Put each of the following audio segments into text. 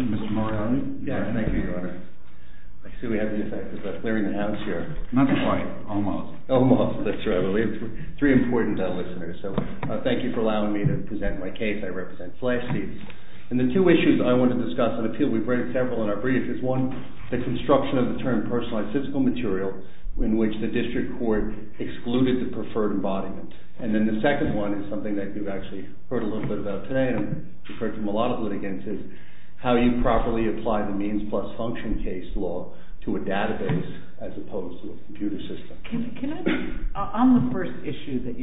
Mr. Moriarty? Yes, thank you, Your Honor. I see we have the effect of clearing the house here. Not quite, almost. Almost, that's right. We have three important listeners, so thank you for allowing me to present my case. I represent FLASH SEATS. And the two issues I want to discuss, and I feel we've read several in our brief, is one, the construction of the term personalized fiscal material, in which the district court excluded the preferred embodiment. And then the second one is something that you've actually heard a little bit about today, and you've heard from a lot of litigants, is how you properly apply the means plus function case law to a database as opposed to a computer system. On the first issue that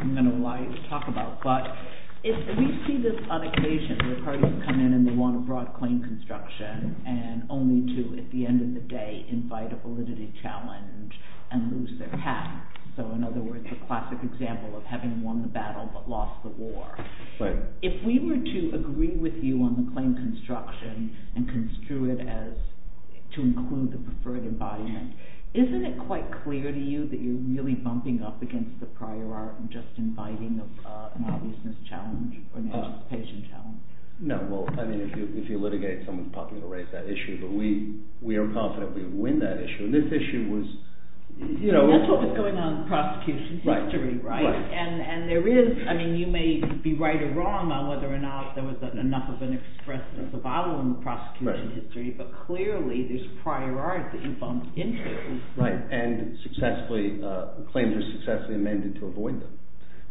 I'm going to allow you to talk about, we see this on occasion where parties come in and they want a broad claim construction, and only to, at the end of the day, invite a validity challenge and lose their hat. So in other words, the classic example of having won the battle but lost the war. If we were to agree with you on the claim construction and construe it as to include the preferred embodiment, isn't it quite clear to you that you're really bumping up against the prior art and just inviting an obviousness challenge or an anticipation challenge? No, well, I mean, if you litigate someone's popular race, that issue, but we are confident we would win that issue. And this issue was, you know... That's what was going on in the prosecution's history, right? And there is, I mean, you may be right or wrong on whether or not there was enough of an express survival in the prosecution's history, but clearly there's prior art that you bumped into. Right, and claims are successfully amended to avoid them.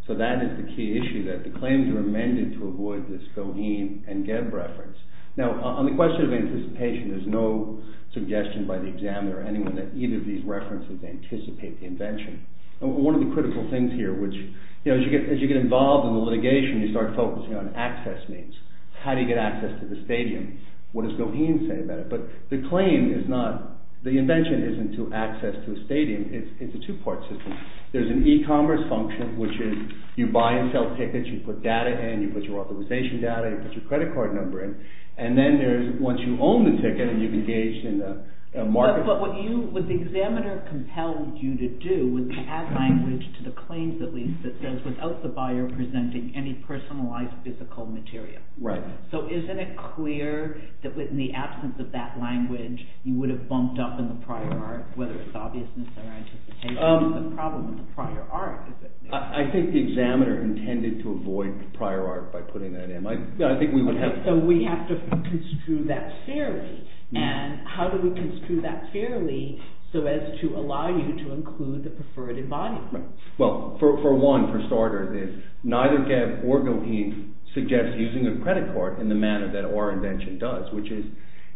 So that is the key issue, that the claims are amended to avoid this Goheen and Geb reference. Now, on the question of anticipation, there's no suggestion by the examiner or anyone that either of these references anticipate the invention. One of the critical things here, which, you know, as you get involved in the litigation, you start focusing on access needs. How do you get access to the stadium? What does Goheen say about it? But the claim is not, the invention isn't to access to a stadium, it's a two-part system. There's an e-commerce function, which is you buy and sell tickets, you put data in, you put your authorization data, you put your credit card number in, and then there's, once you own the ticket and you've engaged in the market... But what the examiner compelled you to do was to add language to the claims, at least, that says, without the buyer presenting any personalized physical material. So isn't it clear that in the absence of that language, you would have bumped up in the prior art, whether it's obviousness or anticipation? What's the problem with the prior art? I think the examiner intended to avoid the prior art by putting that in. I think we would have... Okay, so we have to construe that fairly, and how do we construe that fairly so as to allow you to include the preferred embodiment? Well, for one, for starter, neither Kev or Goheen suggests using a credit card in the manner that our invention does, which is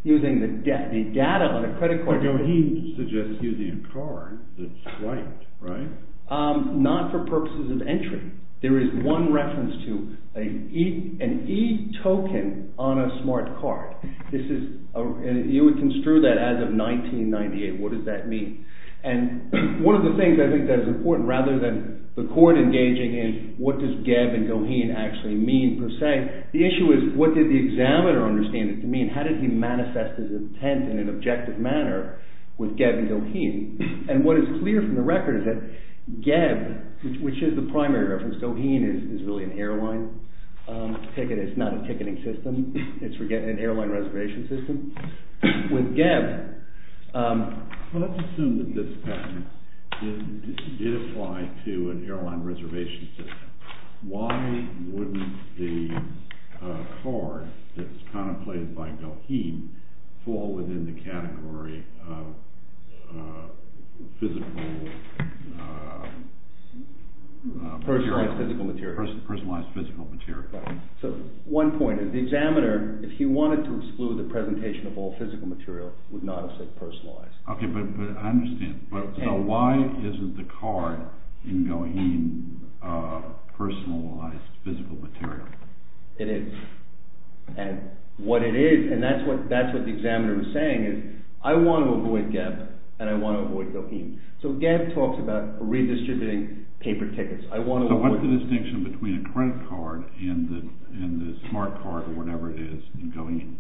using the data on the credit card... But Goheen suggests using a card, that's right, right? Not for purposes of entry. There is one reference to an e-token on a smart card. You would construe that as of 1998. What does that mean? And one of the things I think that is important, rather than the court engaging in what does Kev and Goheen actually mean, per se, the issue is what did the examiner understand it to mean? How did he manifest his intent in an objective manner with Kev and Goheen? And what is clear from the record is that Kev, which is the primary reference, Goheen is really an airline ticket, it's not a ticketing system, it's for getting an airline reservation system. With Kev... ...did apply to an airline reservation system, why wouldn't the card that's contemplated by Goheen fall within the category of physical... Personalized physical material. Personalized physical material. So, one point, the examiner, if he wanted to exclude the presentation of all physical material, would not have said personalized. Okay, but I understand. So, why isn't the card in Goheen personalized physical material? It is. And what it is, and that's what the examiner was saying, is I want to avoid Kev and I want to avoid Goheen. So, Kev talks about redistributing paper tickets. So, what's the distinction between a credit card and the smart card or whatever it is in Goheen?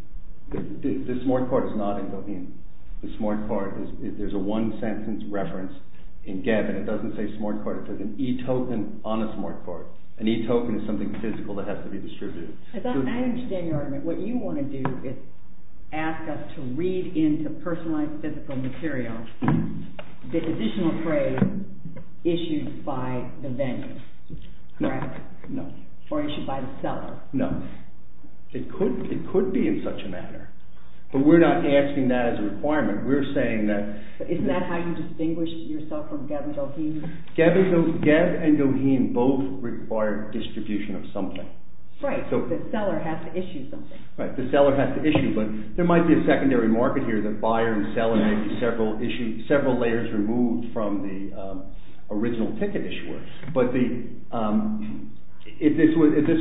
The smart card is not in Goheen. The smart card, there's a one sentence reference in Kev and it doesn't say smart card, it says an e-token on a smart card. An e-token is something physical that has to be distributed. I understand your argument. What you want to do is ask us to read into personalized physical material the additional phrase issued by the venue, correct? No. Or issued by the seller. No. It could be in such a manner, but we're not asking that as a requirement. We're saying that... Isn't that how you distinguish yourself from Kev and Goheen? Kev and Goheen both require distribution of something. Right, the seller has to issue something. Right, the seller has to issue, but there might be a secondary market here that buyer and seller may be several layers removed from the original ticket issuer. If this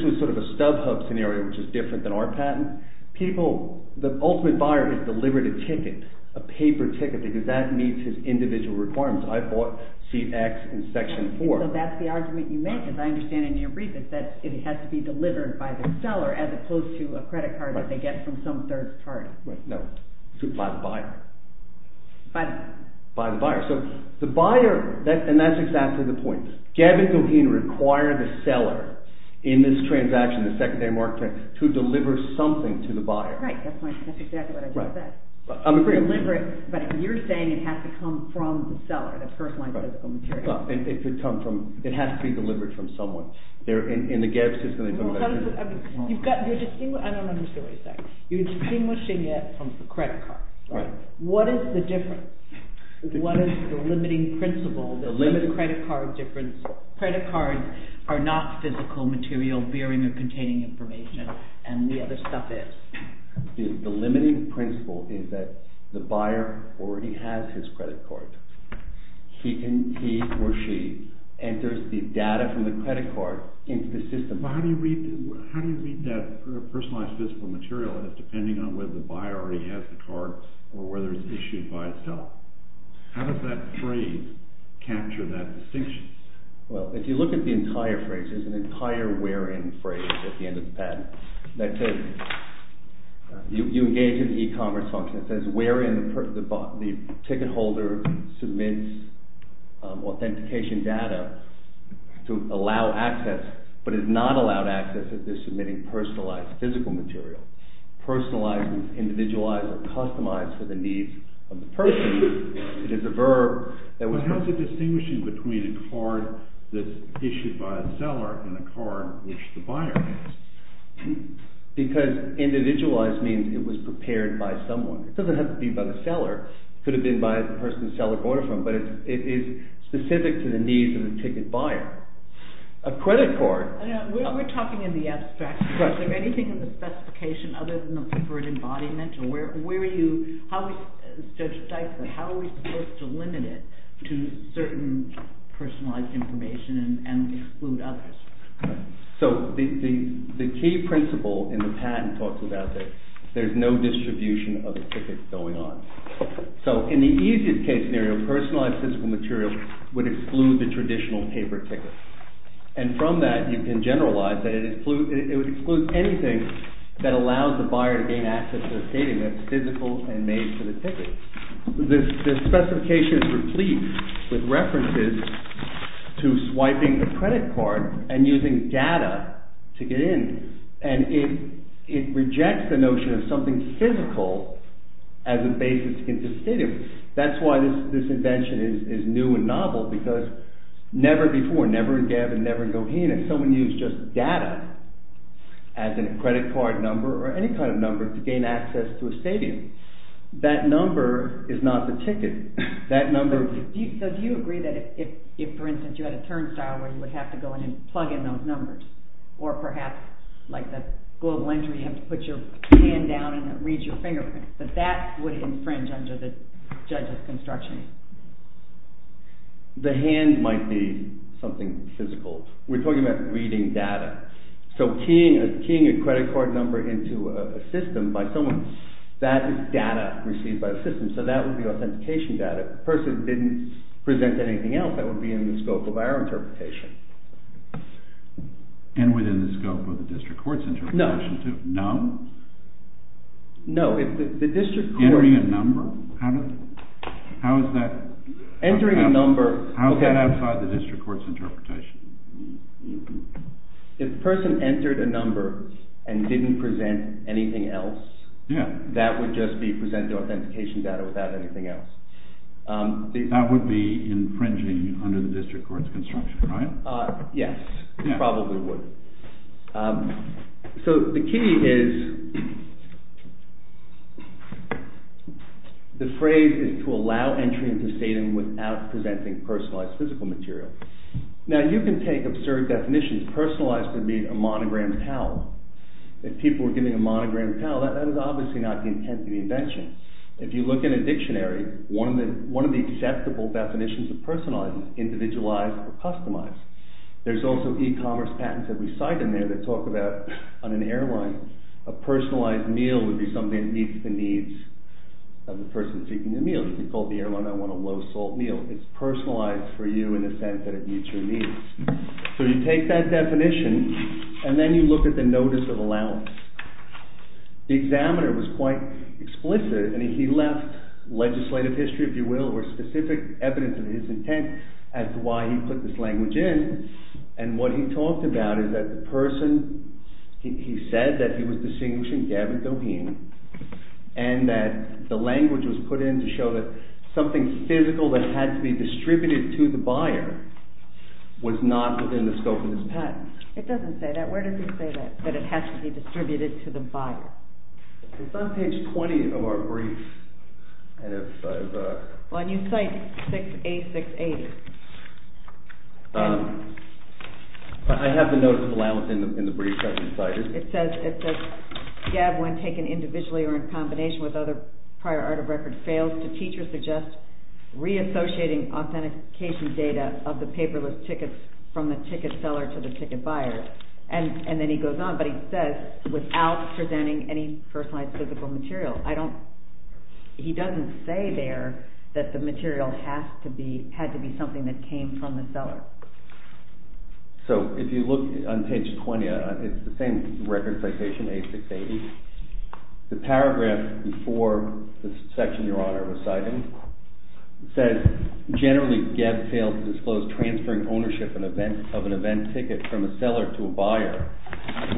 was sort of a StubHub scenario, which is different than our patent, the ultimate buyer is delivered a ticket, a paper ticket, because that meets his individual requirements. I bought seat X in section 4. So that's the argument you make, as I understand in your brief, is that it has to be delivered by the seller as opposed to a credit card that they get from some third party. Right, no. By the buyer. By the buyer. So the buyer, and that's exactly the point. Kev and Goheen require the seller in this transaction, the secondary market, to deliver something to the buyer. Right, that's exactly what I just said. I'm agreeing. Deliver it, but you're saying it has to come from the seller, the personalized physical material. It has to be delivered from someone. In the Kev system... I don't understand what you're saying. You're distinguishing it from the credit card. What is the difference? What is the limiting principle, the credit card difference? Credit cards are not physical material bearing or containing information, and the other stuff is. The limiting principle is that the buyer already has his credit card. He or she enters the data from the credit card into the system. How do you read that personalized physical material? It's depending on whether the buyer already has the card or whether it's issued by itself. How does that phrase capture that distinction? Well, if you look at the entire phrase, there's an entire where-in phrase at the end of the patent. That says, you engage in the e-commerce function. It says, where-in, the ticket holder submits authentication data to allow access, but is not allowed access if they're submitting personalized physical material. Personalized means individualized or customized for the needs of the person. It is a verb that was... But how is it distinguishing between a card that's issued by a seller and a card which the buyer has? Because individualized means it was prepared by someone. It doesn't have to be by the seller. It could have been by the person the seller bought it from, but it is specific to the needs of the ticket buyer. A credit card... We're talking in the abstract. Is there anything in the specification other than the preferred embodiment? Where are you... Judge Dyson, how are we supposed to limit it to certain personalized information and exclude others? The key principle in the patent talks about this. There's no distribution of the ticket going on. So, in the easiest case scenario, personalized physical material would exclude the traditional paper ticket. And from that, you can generalize that it would exclude anything that allows the buyer to gain access to the skating that's physical and made for the ticket. This specification is replete with references to swiping a credit card and using data to get in. And it rejects the notion of something physical as a basis to get to the stadium. That's why this invention is new and novel, because never before, never in Gavin, never in Goheen, has someone used just data as a credit card number or any kind of number to gain access to a stadium. That number is not the ticket. That number... So, do you agree that if, for instance, you had a turnstile where you would have to go in and plug in those numbers? Or perhaps, like the school of laundry, you have to put your hand down and it reads your fingerprint. But that would infringe under the judge's construction. The hand might be something physical. We're talking about reading data. So, keying a credit card number into a system by someone, that is data received by the system. So, that would be authentication data. If the person didn't present anything else, that would be in the scope of our interpretation. And within the scope of the district court's interpretation, too. No. No? No. If the district court... Entering a number? How is that... Entering a number... How is that outside the district court's interpretation? If the person entered a number and didn't present anything else, that would just be presented authentication data without anything else. That would be infringing under the district court's construction, right? Yes. It probably would. So, the key is... The phrase is to allow entry into stating without presenting personalized physical material. Now, you can take absurd definitions. Personalized would mean a monogrammed towel. If people were given a monogrammed towel, that is obviously not the intent of the invention. If you look in a dictionary, one of the acceptable definitions of personalized is individualized or customized. There's also e-commerce patents that we cite in there that talk about, on an airline, a personalized meal would be something that meets the needs of the person seeking the meal. If you call the airline, I want a low-salt meal. It's personalized for you in the sense that it meets your needs. So, you take that definition, and then you look at the notice of allowance. The examiner was quite explicit. I mean, he left legislative history, if you will, or specific evidence of his intent as to why he put this language in. And what he talked about is that the person... He said that he was distinguishing Gavin Doheen and that the language was put in to show that something physical that had to be distributed to the buyer was not within the scope of his patent. It doesn't say that. Where does it say that, that it has to be distributed to the buyer? It's on page 20 of our brief, and it says... Well, and you cite 6A680. I have the notice of allowance in the brief that you cited. It says, it says, Gab, when taken individually or in combination with other prior art of record, fails to teach or suggest reassociating authentication data of the paperless tickets from the ticket seller to the ticket buyer. And then he goes on, but he says, without presenting any personalized physical material. I don't... He doesn't say there that the material has to be, had to be something that came from the seller. So, if you look on page 20, it's the same record citation, A680. The paragraph before the section Your Honor was citing says, generally, Gab fails to disclose transferring ownership of an event ticket from a seller to a buyer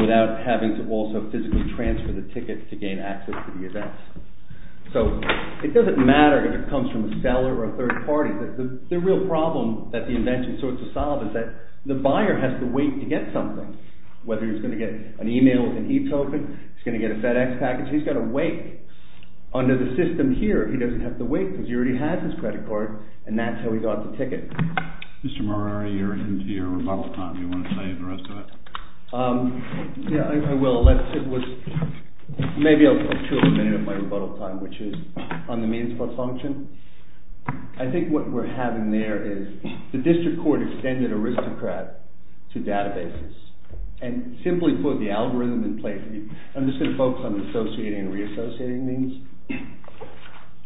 without having to also physically transfer the ticket to gain access to the event. So, it doesn't matter if it comes from a seller or a third party. The real problem that the invention sought to solve is that the buyer has to wait to get something, whether he's going to get an e-mail with an e-token, he's going to get a FedEx package. He's got to wait under the system here. He doesn't have to wait because he already has his credit card, and that's how he got the ticket. Mr. Morari, you're into your rebuttal time. Do you want to save the rest of it? Yeah, I will. Let's... It was maybe a two-minute of my rebuttal time, which is on the means plus function. I think what we're having there is the district court extended Aristocrat to databases and simply put the algorithm in place. I'm just going to focus on associating and reassociating means.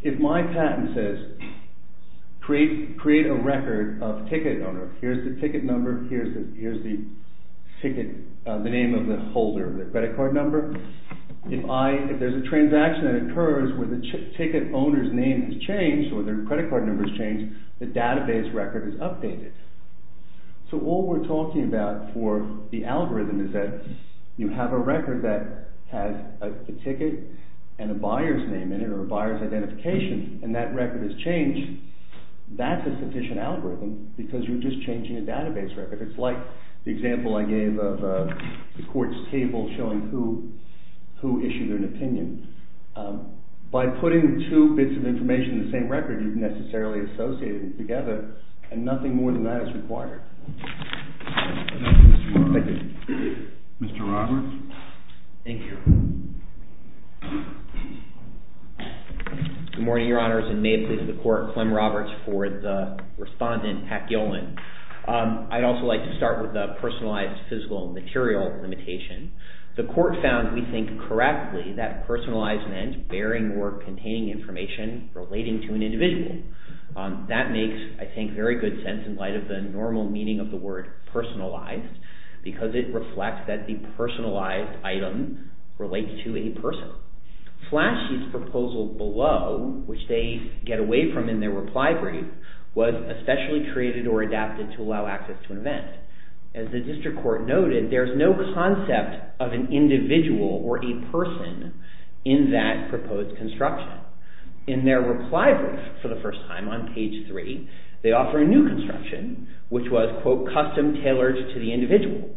If my patent says, create a record of ticket owner, here's the ticket number, here's the ticket, the name of the holder, the credit card number. If there's a transaction that occurs where the ticket owner's name has changed or their credit card number has changed, the database record is updated. All we're talking about for the algorithm is that you have a record that has a ticket and a buyer's name in it or a buyer's identification, and that record has changed. That's a sufficient algorithm because you're just changing a database record. If it's like the example I gave of the court's table showing who issued an opinion, by putting two bits of information in the same record, you've necessarily associated them together, and nothing more than that is required. Thank you, Mr. Roberts. Mr. Roberts? Thank you. Good morning, Your Honors, and may it please the court, Clem Roberts for the respondent, Pat Gilman. I'd also like to start with the personalized physical material limitation. The court found, we think, correctly that personalized meant bearing or containing information relating to an individual. That makes, I think, very good sense in light of the normal meaning of the word personalized because it reflects that the personalized item relates to a person. Flashy's proposal below, which they get away from in their reply brief, was especially created or adapted to allow access to an event. As the district court noted, there's no concept of an individual or a person in that proposed construction. In their reply brief for the first time on page three, they offer a new construction, which was, quote, custom-tailored to the individual.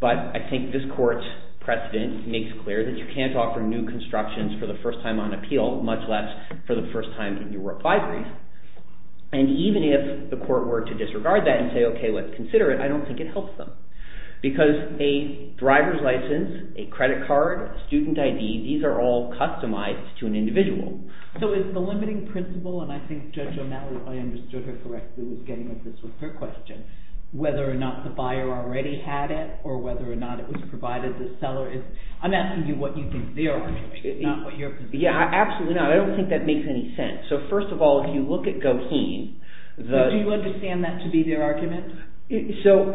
But I think this court's precedent makes clear that you can't offer new constructions for the first time on appeal, much less for the first time in your reply brief. And even if the court were to disregard that and say, okay, let's consider it, I don't think it helps them. Because a driver's license, a credit card, a student ID, these are all customized to an individual. So is the limiting principle, and I think Judge O'Malley, if I understood her correctly, was getting at this with her question, whether or not the buyer already had it or whether or not it was provided to the seller. I'm asking you what you think their argument is, not what your position is. Yeah, absolutely not. I don't think that makes any sense. So first of all, if you look at Goheen, the – Do you understand that to be their argument? So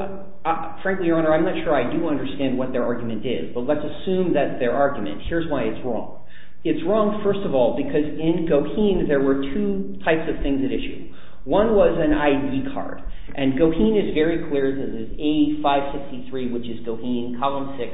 frankly, Your Honor, I'm not sure I do understand what their argument is. But let's assume that's their argument. Here's why it's wrong. It's wrong, first of all, because in Goheen, there were two types of things at issue. One was an ID card, and Goheen is very clear that it's A563, which is Goheen, column 6,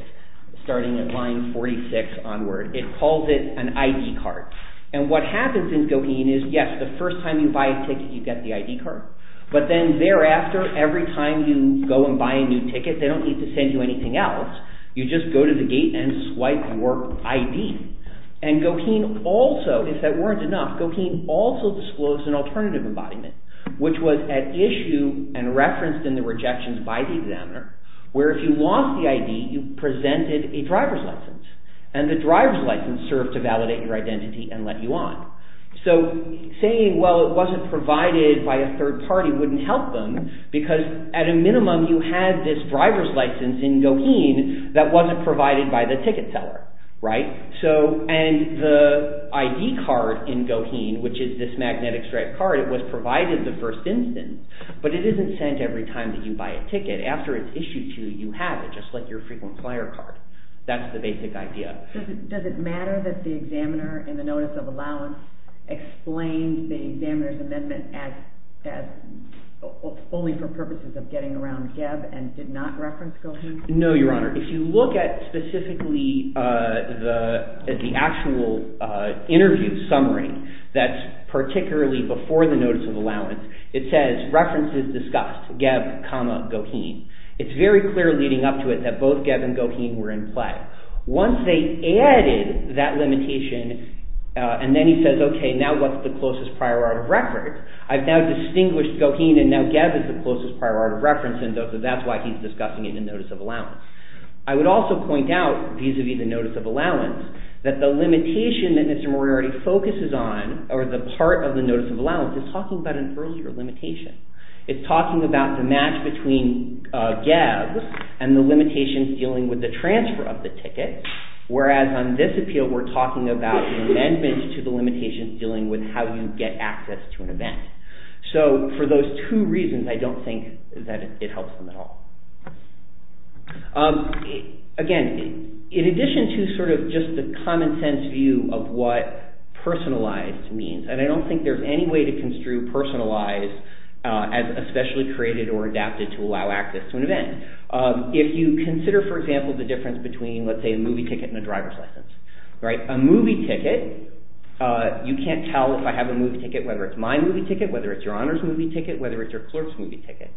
starting at line 46 onward. It calls it an ID card. And what happens in Goheen is, yes, the first time you buy a ticket, you get the ID card. But then thereafter, every time you go and buy a new ticket, they don't need to send you anything else. You just go to the gate and swipe your ID. And Goheen also, if that weren't enough, Goheen also disclosed an alternative embodiment, which was at issue and referenced in the rejections by the examiner, where if you lost the ID, you presented a driver's license. And the driver's license served to validate your identity and let you on. So saying, well, it wasn't provided by a third party wouldn't help them, because at a minimum, you had this driver's license in Goheen that wasn't provided by the ticket seller. And the ID card in Goheen, which is this magnetic stripe card, it was provided the first instance, but it isn't sent every time that you buy a ticket. After it's issued to you, you have it, just like your frequent flyer card. That's the basic idea. Does it matter that the examiner in the notice of allowance explained the examiner's amendment as only for purposes of getting around Geb and did not reference Goheen? No, Your Honor. If you look at specifically the actual interview summary that's particularly before the notice of allowance, it says references discussed, Geb, Goheen. It's very clear leading up to it that both Geb and Goheen were in play. Once they added that limitation, and then he says, okay, now what's the closest prior art of record? I've now distinguished Goheen, and now Geb is the closest prior art of reference, and that's why he's discussing it in the notice of allowance. I would also point out, vis-à-vis the notice of allowance, that the limitation that Mr. Moriarty focuses on, or the part of the notice of allowance, is talking about an earlier limitation. It's talking about the match between Geb and the limitations dealing with the transfer of the ticket, whereas on this appeal we're talking about the amendment to the limitations dealing with how you get access to an event. So, for those two reasons, I don't think that it helps them at all. Again, in addition to sort of just the common sense view of what personalized means, and I don't think there's any way to construe personalized as especially created or adapted to allow access to an event. If you consider, for example, the difference between, let's say, a movie ticket and a driver's license. A movie ticket, you can't tell if I have a movie ticket, whether it's my movie ticket, whether it's your honors movie ticket, whether it's your clerk's movie ticket,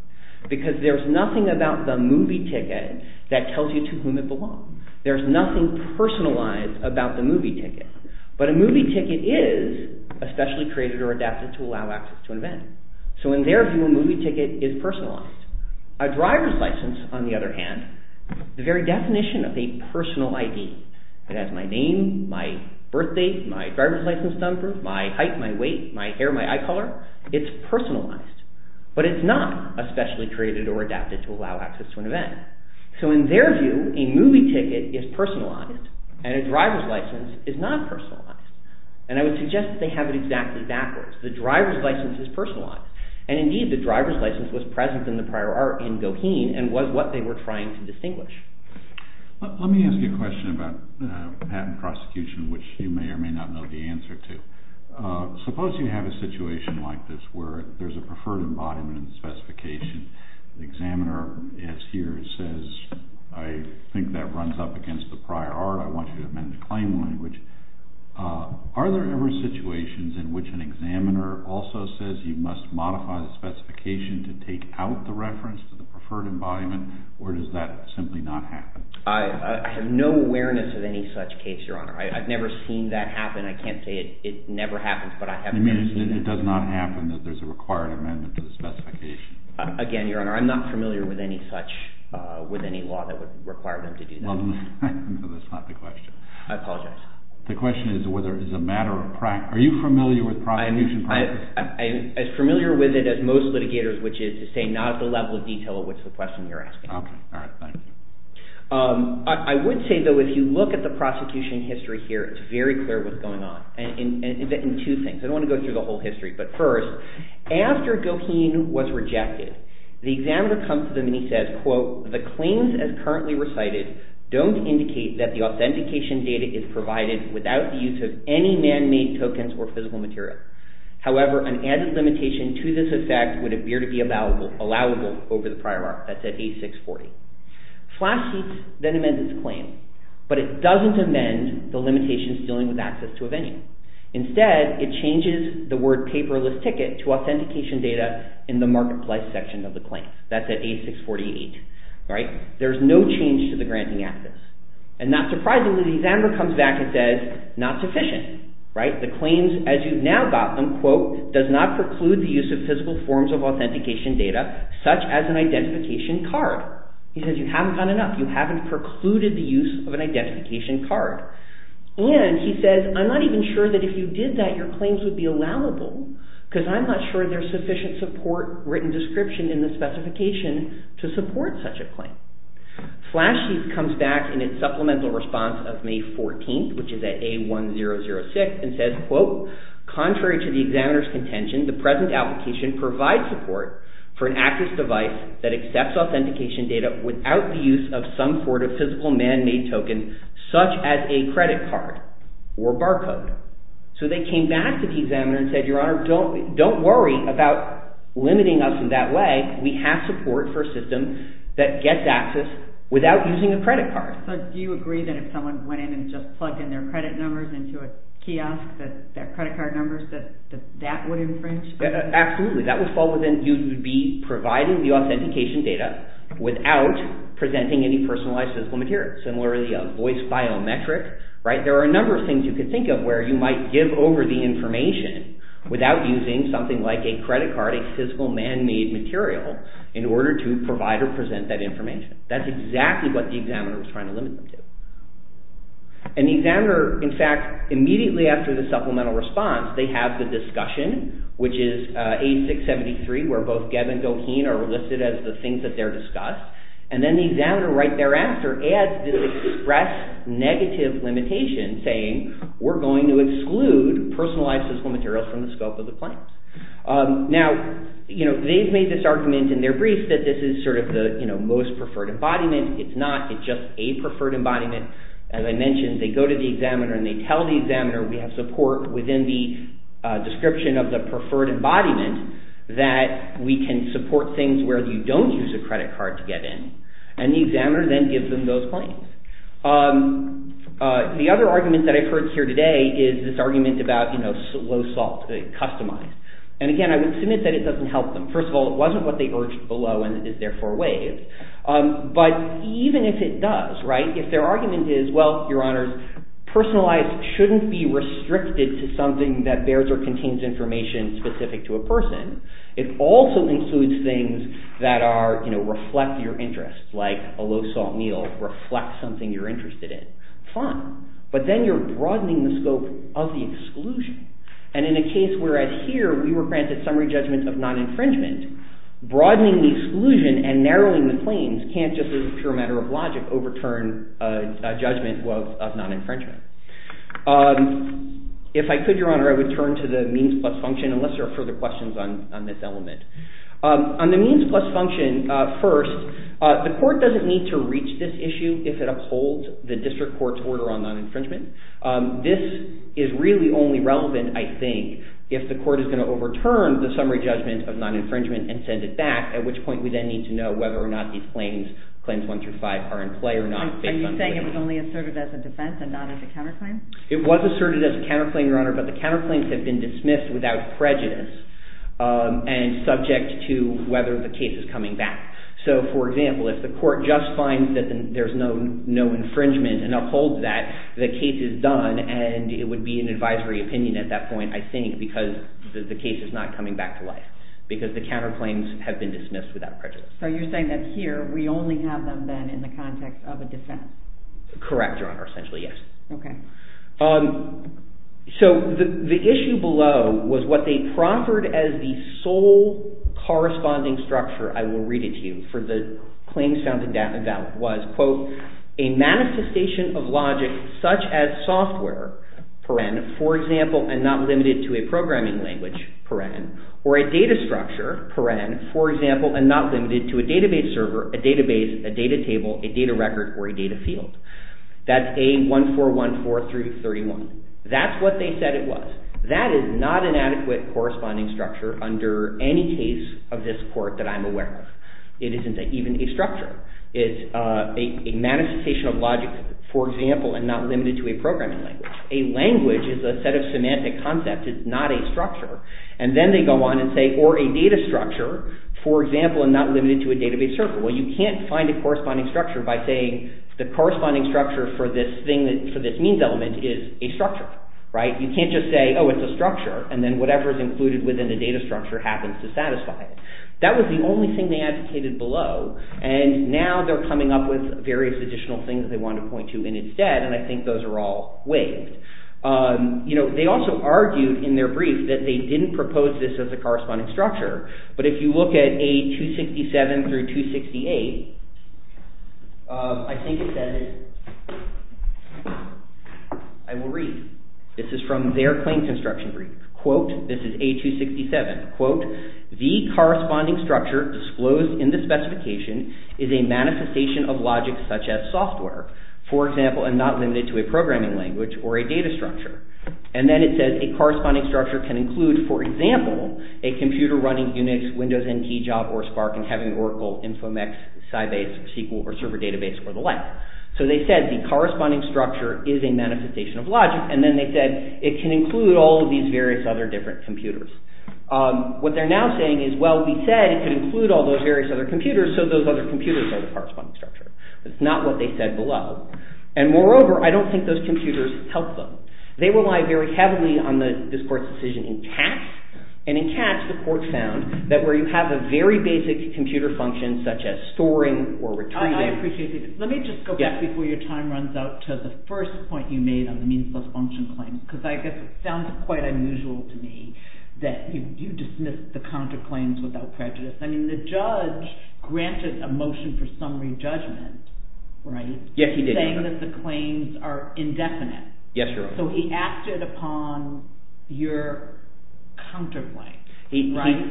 because there's nothing about the movie ticket that tells you to whom it belongs. There's nothing personalized about the movie ticket. But a movie ticket is especially created or adapted to allow access to an event. So, in their view, a movie ticket is personalized. A driver's license, on the other hand, the very definition of a personal ID. It has my name, my birth date, my driver's license number, my height, my weight, my hair, my eye color. It's personalized. But it's not especially created or adapted to allow access to an event. So, in their view, a movie ticket is personalized and a driver's license is not personalized. And I would suggest that they have it exactly backwards. The driver's license is personalized. And, indeed, the driver's license was present in the prior art in Goheen and was what they were trying to distinguish. Let me ask you a question about patent prosecution, which you may or may not know the answer to. Suppose you have a situation like this where there's a preferred embodiment and specification. The examiner is here and says, I think that runs up against the prior art. I want you to amend the claim language. Are there ever situations in which an examiner also says you must modify the specification to take out the reference to the preferred embodiment? Or does that simply not happen? I have no awareness of any such case, Your Honor. I've never seen that happen. I can't say it never happens, but I have never seen that. Again, Your Honor, I'm not familiar with any such – with any law that would require them to do that. No, that's not the question. I apologize. The question is whether it's a matter of – are you familiar with prosecution practice? I'm as familiar with it as most litigators, which is to say not at the level of detail at which the question you're asking. Okay. All right. Thanks. I would say, though, if you look at the prosecution history here, it's very clear what's going on in two things. I don't want to go through the whole history. But first, after Goheen was rejected, the examiner comes to them and he says, quote, the claims as currently recited don't indicate that the authentication data is provided without the use of any man-made tokens or physical material. However, an added limitation to this effect would appear to be allowable over the prior article. That's at A640. Flash seats then amend this claim, but it doesn't amend the limitations dealing with access to a venue. Instead, it changes the word paperless ticket to authentication data in the marketplace section of the claim. That's at A648. There's no change to the granting access. And not surprisingly, the examiner comes back and says, not sufficient. The claims as you've now got them, quote, does not preclude the use of physical forms of authentication data, such as an identification card. He says you haven't done enough. You haven't precluded the use of an identification card. And he says, I'm not even sure that if you did that, your claims would be allowable, because I'm not sure there's sufficient support written description in the specification to support such a claim. Flash seats comes back in its supplemental response of May 14th, which is at A1006, and says, quote, contrary to the examiner's contention, the present application provides support for an access device that accepts authentication data without the use of some sort of physical man-made token, such as a credit card or barcode. So they came back to the examiner and said, Your Honor, don't worry about limiting us in that way. We have support for a system that gets access without using a credit card. So do you agree that if someone went in and just plugged in their credit numbers into a kiosk, that credit card numbers, that that would infringe? Absolutely. That would fall within, you would be providing the authentication data without presenting any personalized physical material. Similarly, a voice biometric. There are a number of things you could think of where you might give over the information without using something like a credit card, a physical man-made material, in order to provide or present that information. That's exactly what the examiner was trying to limit them to. And the examiner, in fact, immediately after the supplemental response, they have the discussion, which is 8673, where both Gebb and Goheen are listed as the things that they're discussed. And then the examiner, right thereafter, adds this express negative limitation, saying we're going to exclude personalized physical materials from the scope of the claim. Now, they've made this argument in their briefs that this is sort of the most preferred embodiment. It's not. It's just a preferred embodiment. As I mentioned, they go to the examiner and they tell the examiner we have support within the description of the preferred embodiment that we can support things where you don't use a credit card to get in. And the examiner then gives them those claims. The other argument that I've heard here today is this argument about low salt, customized. And again, I would submit that it doesn't help them. First of all, it wasn't what they urged below and is therefore waived. But even if it does, if their argument is, well, your honors, personalized shouldn't be restricted to something that bears or contains information specific to a person. It also includes things that reflect your interests, like a low salt meal reflects something you're interested in. Fine. But then you're broadening the scope of the exclusion. And in a case whereas here we were granted summary judgment of non-infringement, broadening the exclusion and narrowing the claims can't just as a pure matter of logic overturn a judgment of non-infringement. If I could, your honor, I would turn to the means plus function unless there are further questions on this element. On the means plus function, first, the court doesn't need to reach this issue if it upholds the district court's order on non-infringement. This is really only relevant, I think, if the court is going to overturn the summary judgment of non-infringement and send it back, at which point we then need to know whether or not these claims, claims one through five, are in play or not. Are you saying it was only asserted as a defense and not as a counterclaim? It was asserted as a counterclaim, your honor, but the counterclaims have been dismissed without prejudice and subject to whether the case is coming back. So, for example, if the court just finds that there's no infringement and upholds that, the case is done and it would be an advisory opinion at that point, I think, because the case is not coming back to life, because the counterclaims have been dismissed without prejudice. So you're saying that here we only have them then in the context of a defense? Correct, your honor, essentially, yes. Okay. So the issue below was what they proffered as the sole corresponding structure, I will read it to you, for the claims found in that was, quote, a manifestation of logic such as software, for example, and not limited to a programming language, or a data structure, for example, and not limited to a database server, a database, a data table, a data record, or a data field. That's A1414-31. That's what they said it was. That is not an adequate corresponding structure under any case of this court that I'm aware of. It isn't even a structure. It's a manifestation of logic, for example, and not limited to a programming language. A language is a set of semantic concepts. It's not a structure. And then they go on and say, or a data structure, for example, and not limited to a database server. Well, you can't find a corresponding structure by saying the corresponding structure for this thing, for this means element is a structure, right? You can't just say, oh, it's a structure, and then whatever is included within the data structure happens to satisfy it. That was the only thing they advocated below, and now they're coming up with various additional things they want to point to in its stead, and I think those are all waived. You know, they also argued in their brief that they didn't propose this as a corresponding structure, but if you look at A267 through 268, I think it says, I will read. This is from their claim construction brief. Quote, this is A267. Quote, the corresponding structure disclosed in the specification is a manifestation of logic such as software, for example, and not limited to a programming language or a data structure. And then it says a corresponding structure can include, for example, a computer running UNIX, Windows NT, Job, or Spark, and having Oracle, Infomex, Sybase, or SQL, or server database, or the like. So they said the corresponding structure is a manifestation of logic, and then they said it can include all of these various other different computers. What they're now saying is, well, we said it could include all those various other computers, so those other computers are the corresponding structure. That's not what they said below, and moreover, I don't think those computers help them. They rely very heavily on this court's decision in Katz, and in Katz the court found that where you have a very basic computer function such as storing or retrieving- I appreciate that. Let me just go back before your time runs out to the first point you made on the means-less function claim, because I guess it sounds quite unusual to me that you dismiss the counterclaims without prejudice. I mean, the judge granted a motion for summary judgment, right? Yes, he did. Saying that the claims are indefinite. Yes, Your Honor. So he acted upon your counterpoint, right?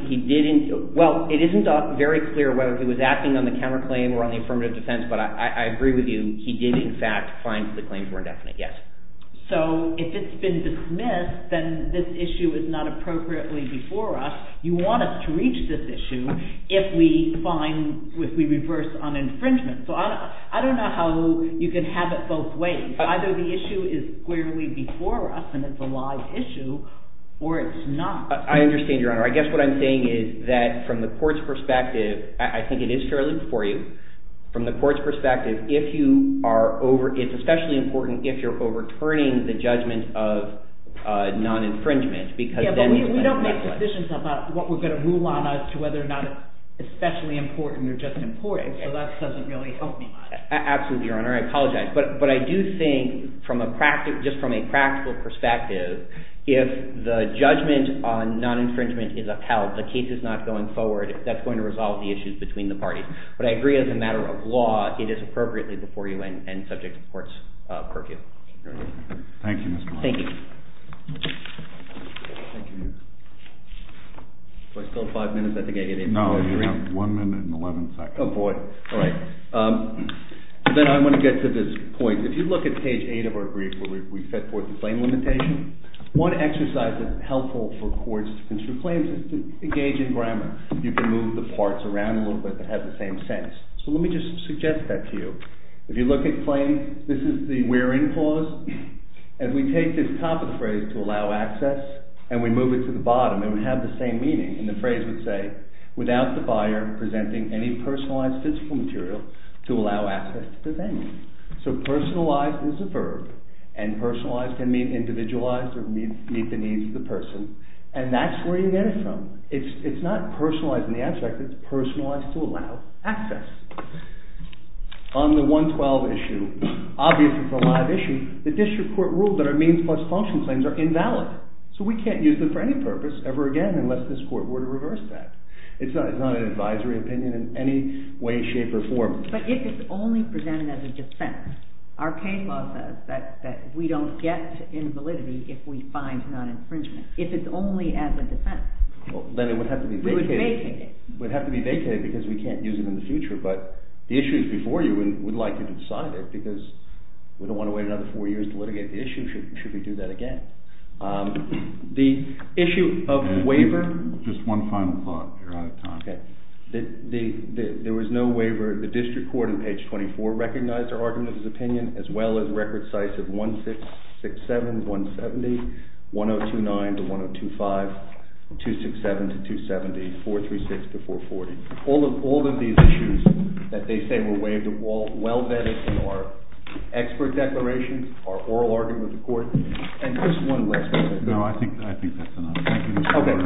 Well, it isn't very clear whether he was acting on the counterclaim or on the affirmative defense, but I agree with you. He did, in fact, find the claims were indefinite, yes. So if it's been dismissed, then this issue is not appropriately before us. You want us to reach this issue if we reverse on infringement. So I don't know how you can have it both ways. Either the issue is clearly before us and it's a live issue, or it's not. I understand, Your Honor. I guess what I'm saying is that from the court's perspective, I think it is fairly before you. From the court's perspective, it's especially important if you're overturning the judgment of non-infringement. Yeah, but we don't make decisions about what we're going to rule on us to whether or not it's especially important or just important. So that doesn't really help me much. Absolutely, Your Honor. I apologize. But I do think just from a practical perspective, if the judgment on non-infringement is upheld, the case is not going forward, that's going to resolve the issues between the parties. But I agree as a matter of law, it is appropriately before you and subject to court's purview. Thank you, Mr. Miller. Thank you. Do I still have five minutes? I think I did. No, you have one minute and 11 seconds. Oh, boy. All right. Then I want to get to this point. If you look at page 8 of our brief where we set forth the claim limitation, one exercise that's helpful for courts to construe claims is to engage in grammar. You can move the parts around a little bit that have the same sense. So let me just suggest that to you. If you look at claims, this is the wherein clause. As we take this top of the phrase, to allow access, and we move it to the bottom, it would have the same meaning. And the phrase would say, without the buyer presenting any personalized physical material to allow access to the venue. So personalized is a verb, and personalized can mean individualized or meet the needs of the person. And that's where you get it from. It's not personalized in the abstract. It's personalized to allow access. On the 112 issue, obviously it's a live issue. The district court ruled that our means plus function claims are invalid. So we can't use them for any purpose ever again unless this court were to reverse that. It's not an advisory opinion in any way, shape, or form. But if it's only presented as a defense, our case law says that we don't get invalidity if we find non-infringement. If it's only as a defense. Then it would have to be vacated because we can't use it in the future. But the issues before you, we'd like to decide it because we don't want to wait another four years to litigate the issue should we do that again. The issue of waiver. Just one final thought. You're out of time. There was no waiver. The district court in page 24 recognized our argument of his opinion as well as record sites of 1667, 170, 1029 to 1025, 267 to 270, 436 to 440. All of these issues that they say were waived are well vetted in our expert declarations, our oral argument with the court. And just one last question. No, I think that's enough. Thank you, Mr. Roberts.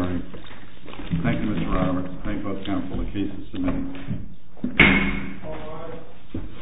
Thank you, Mr. Roberts. Thank both counsel. The case is submitted.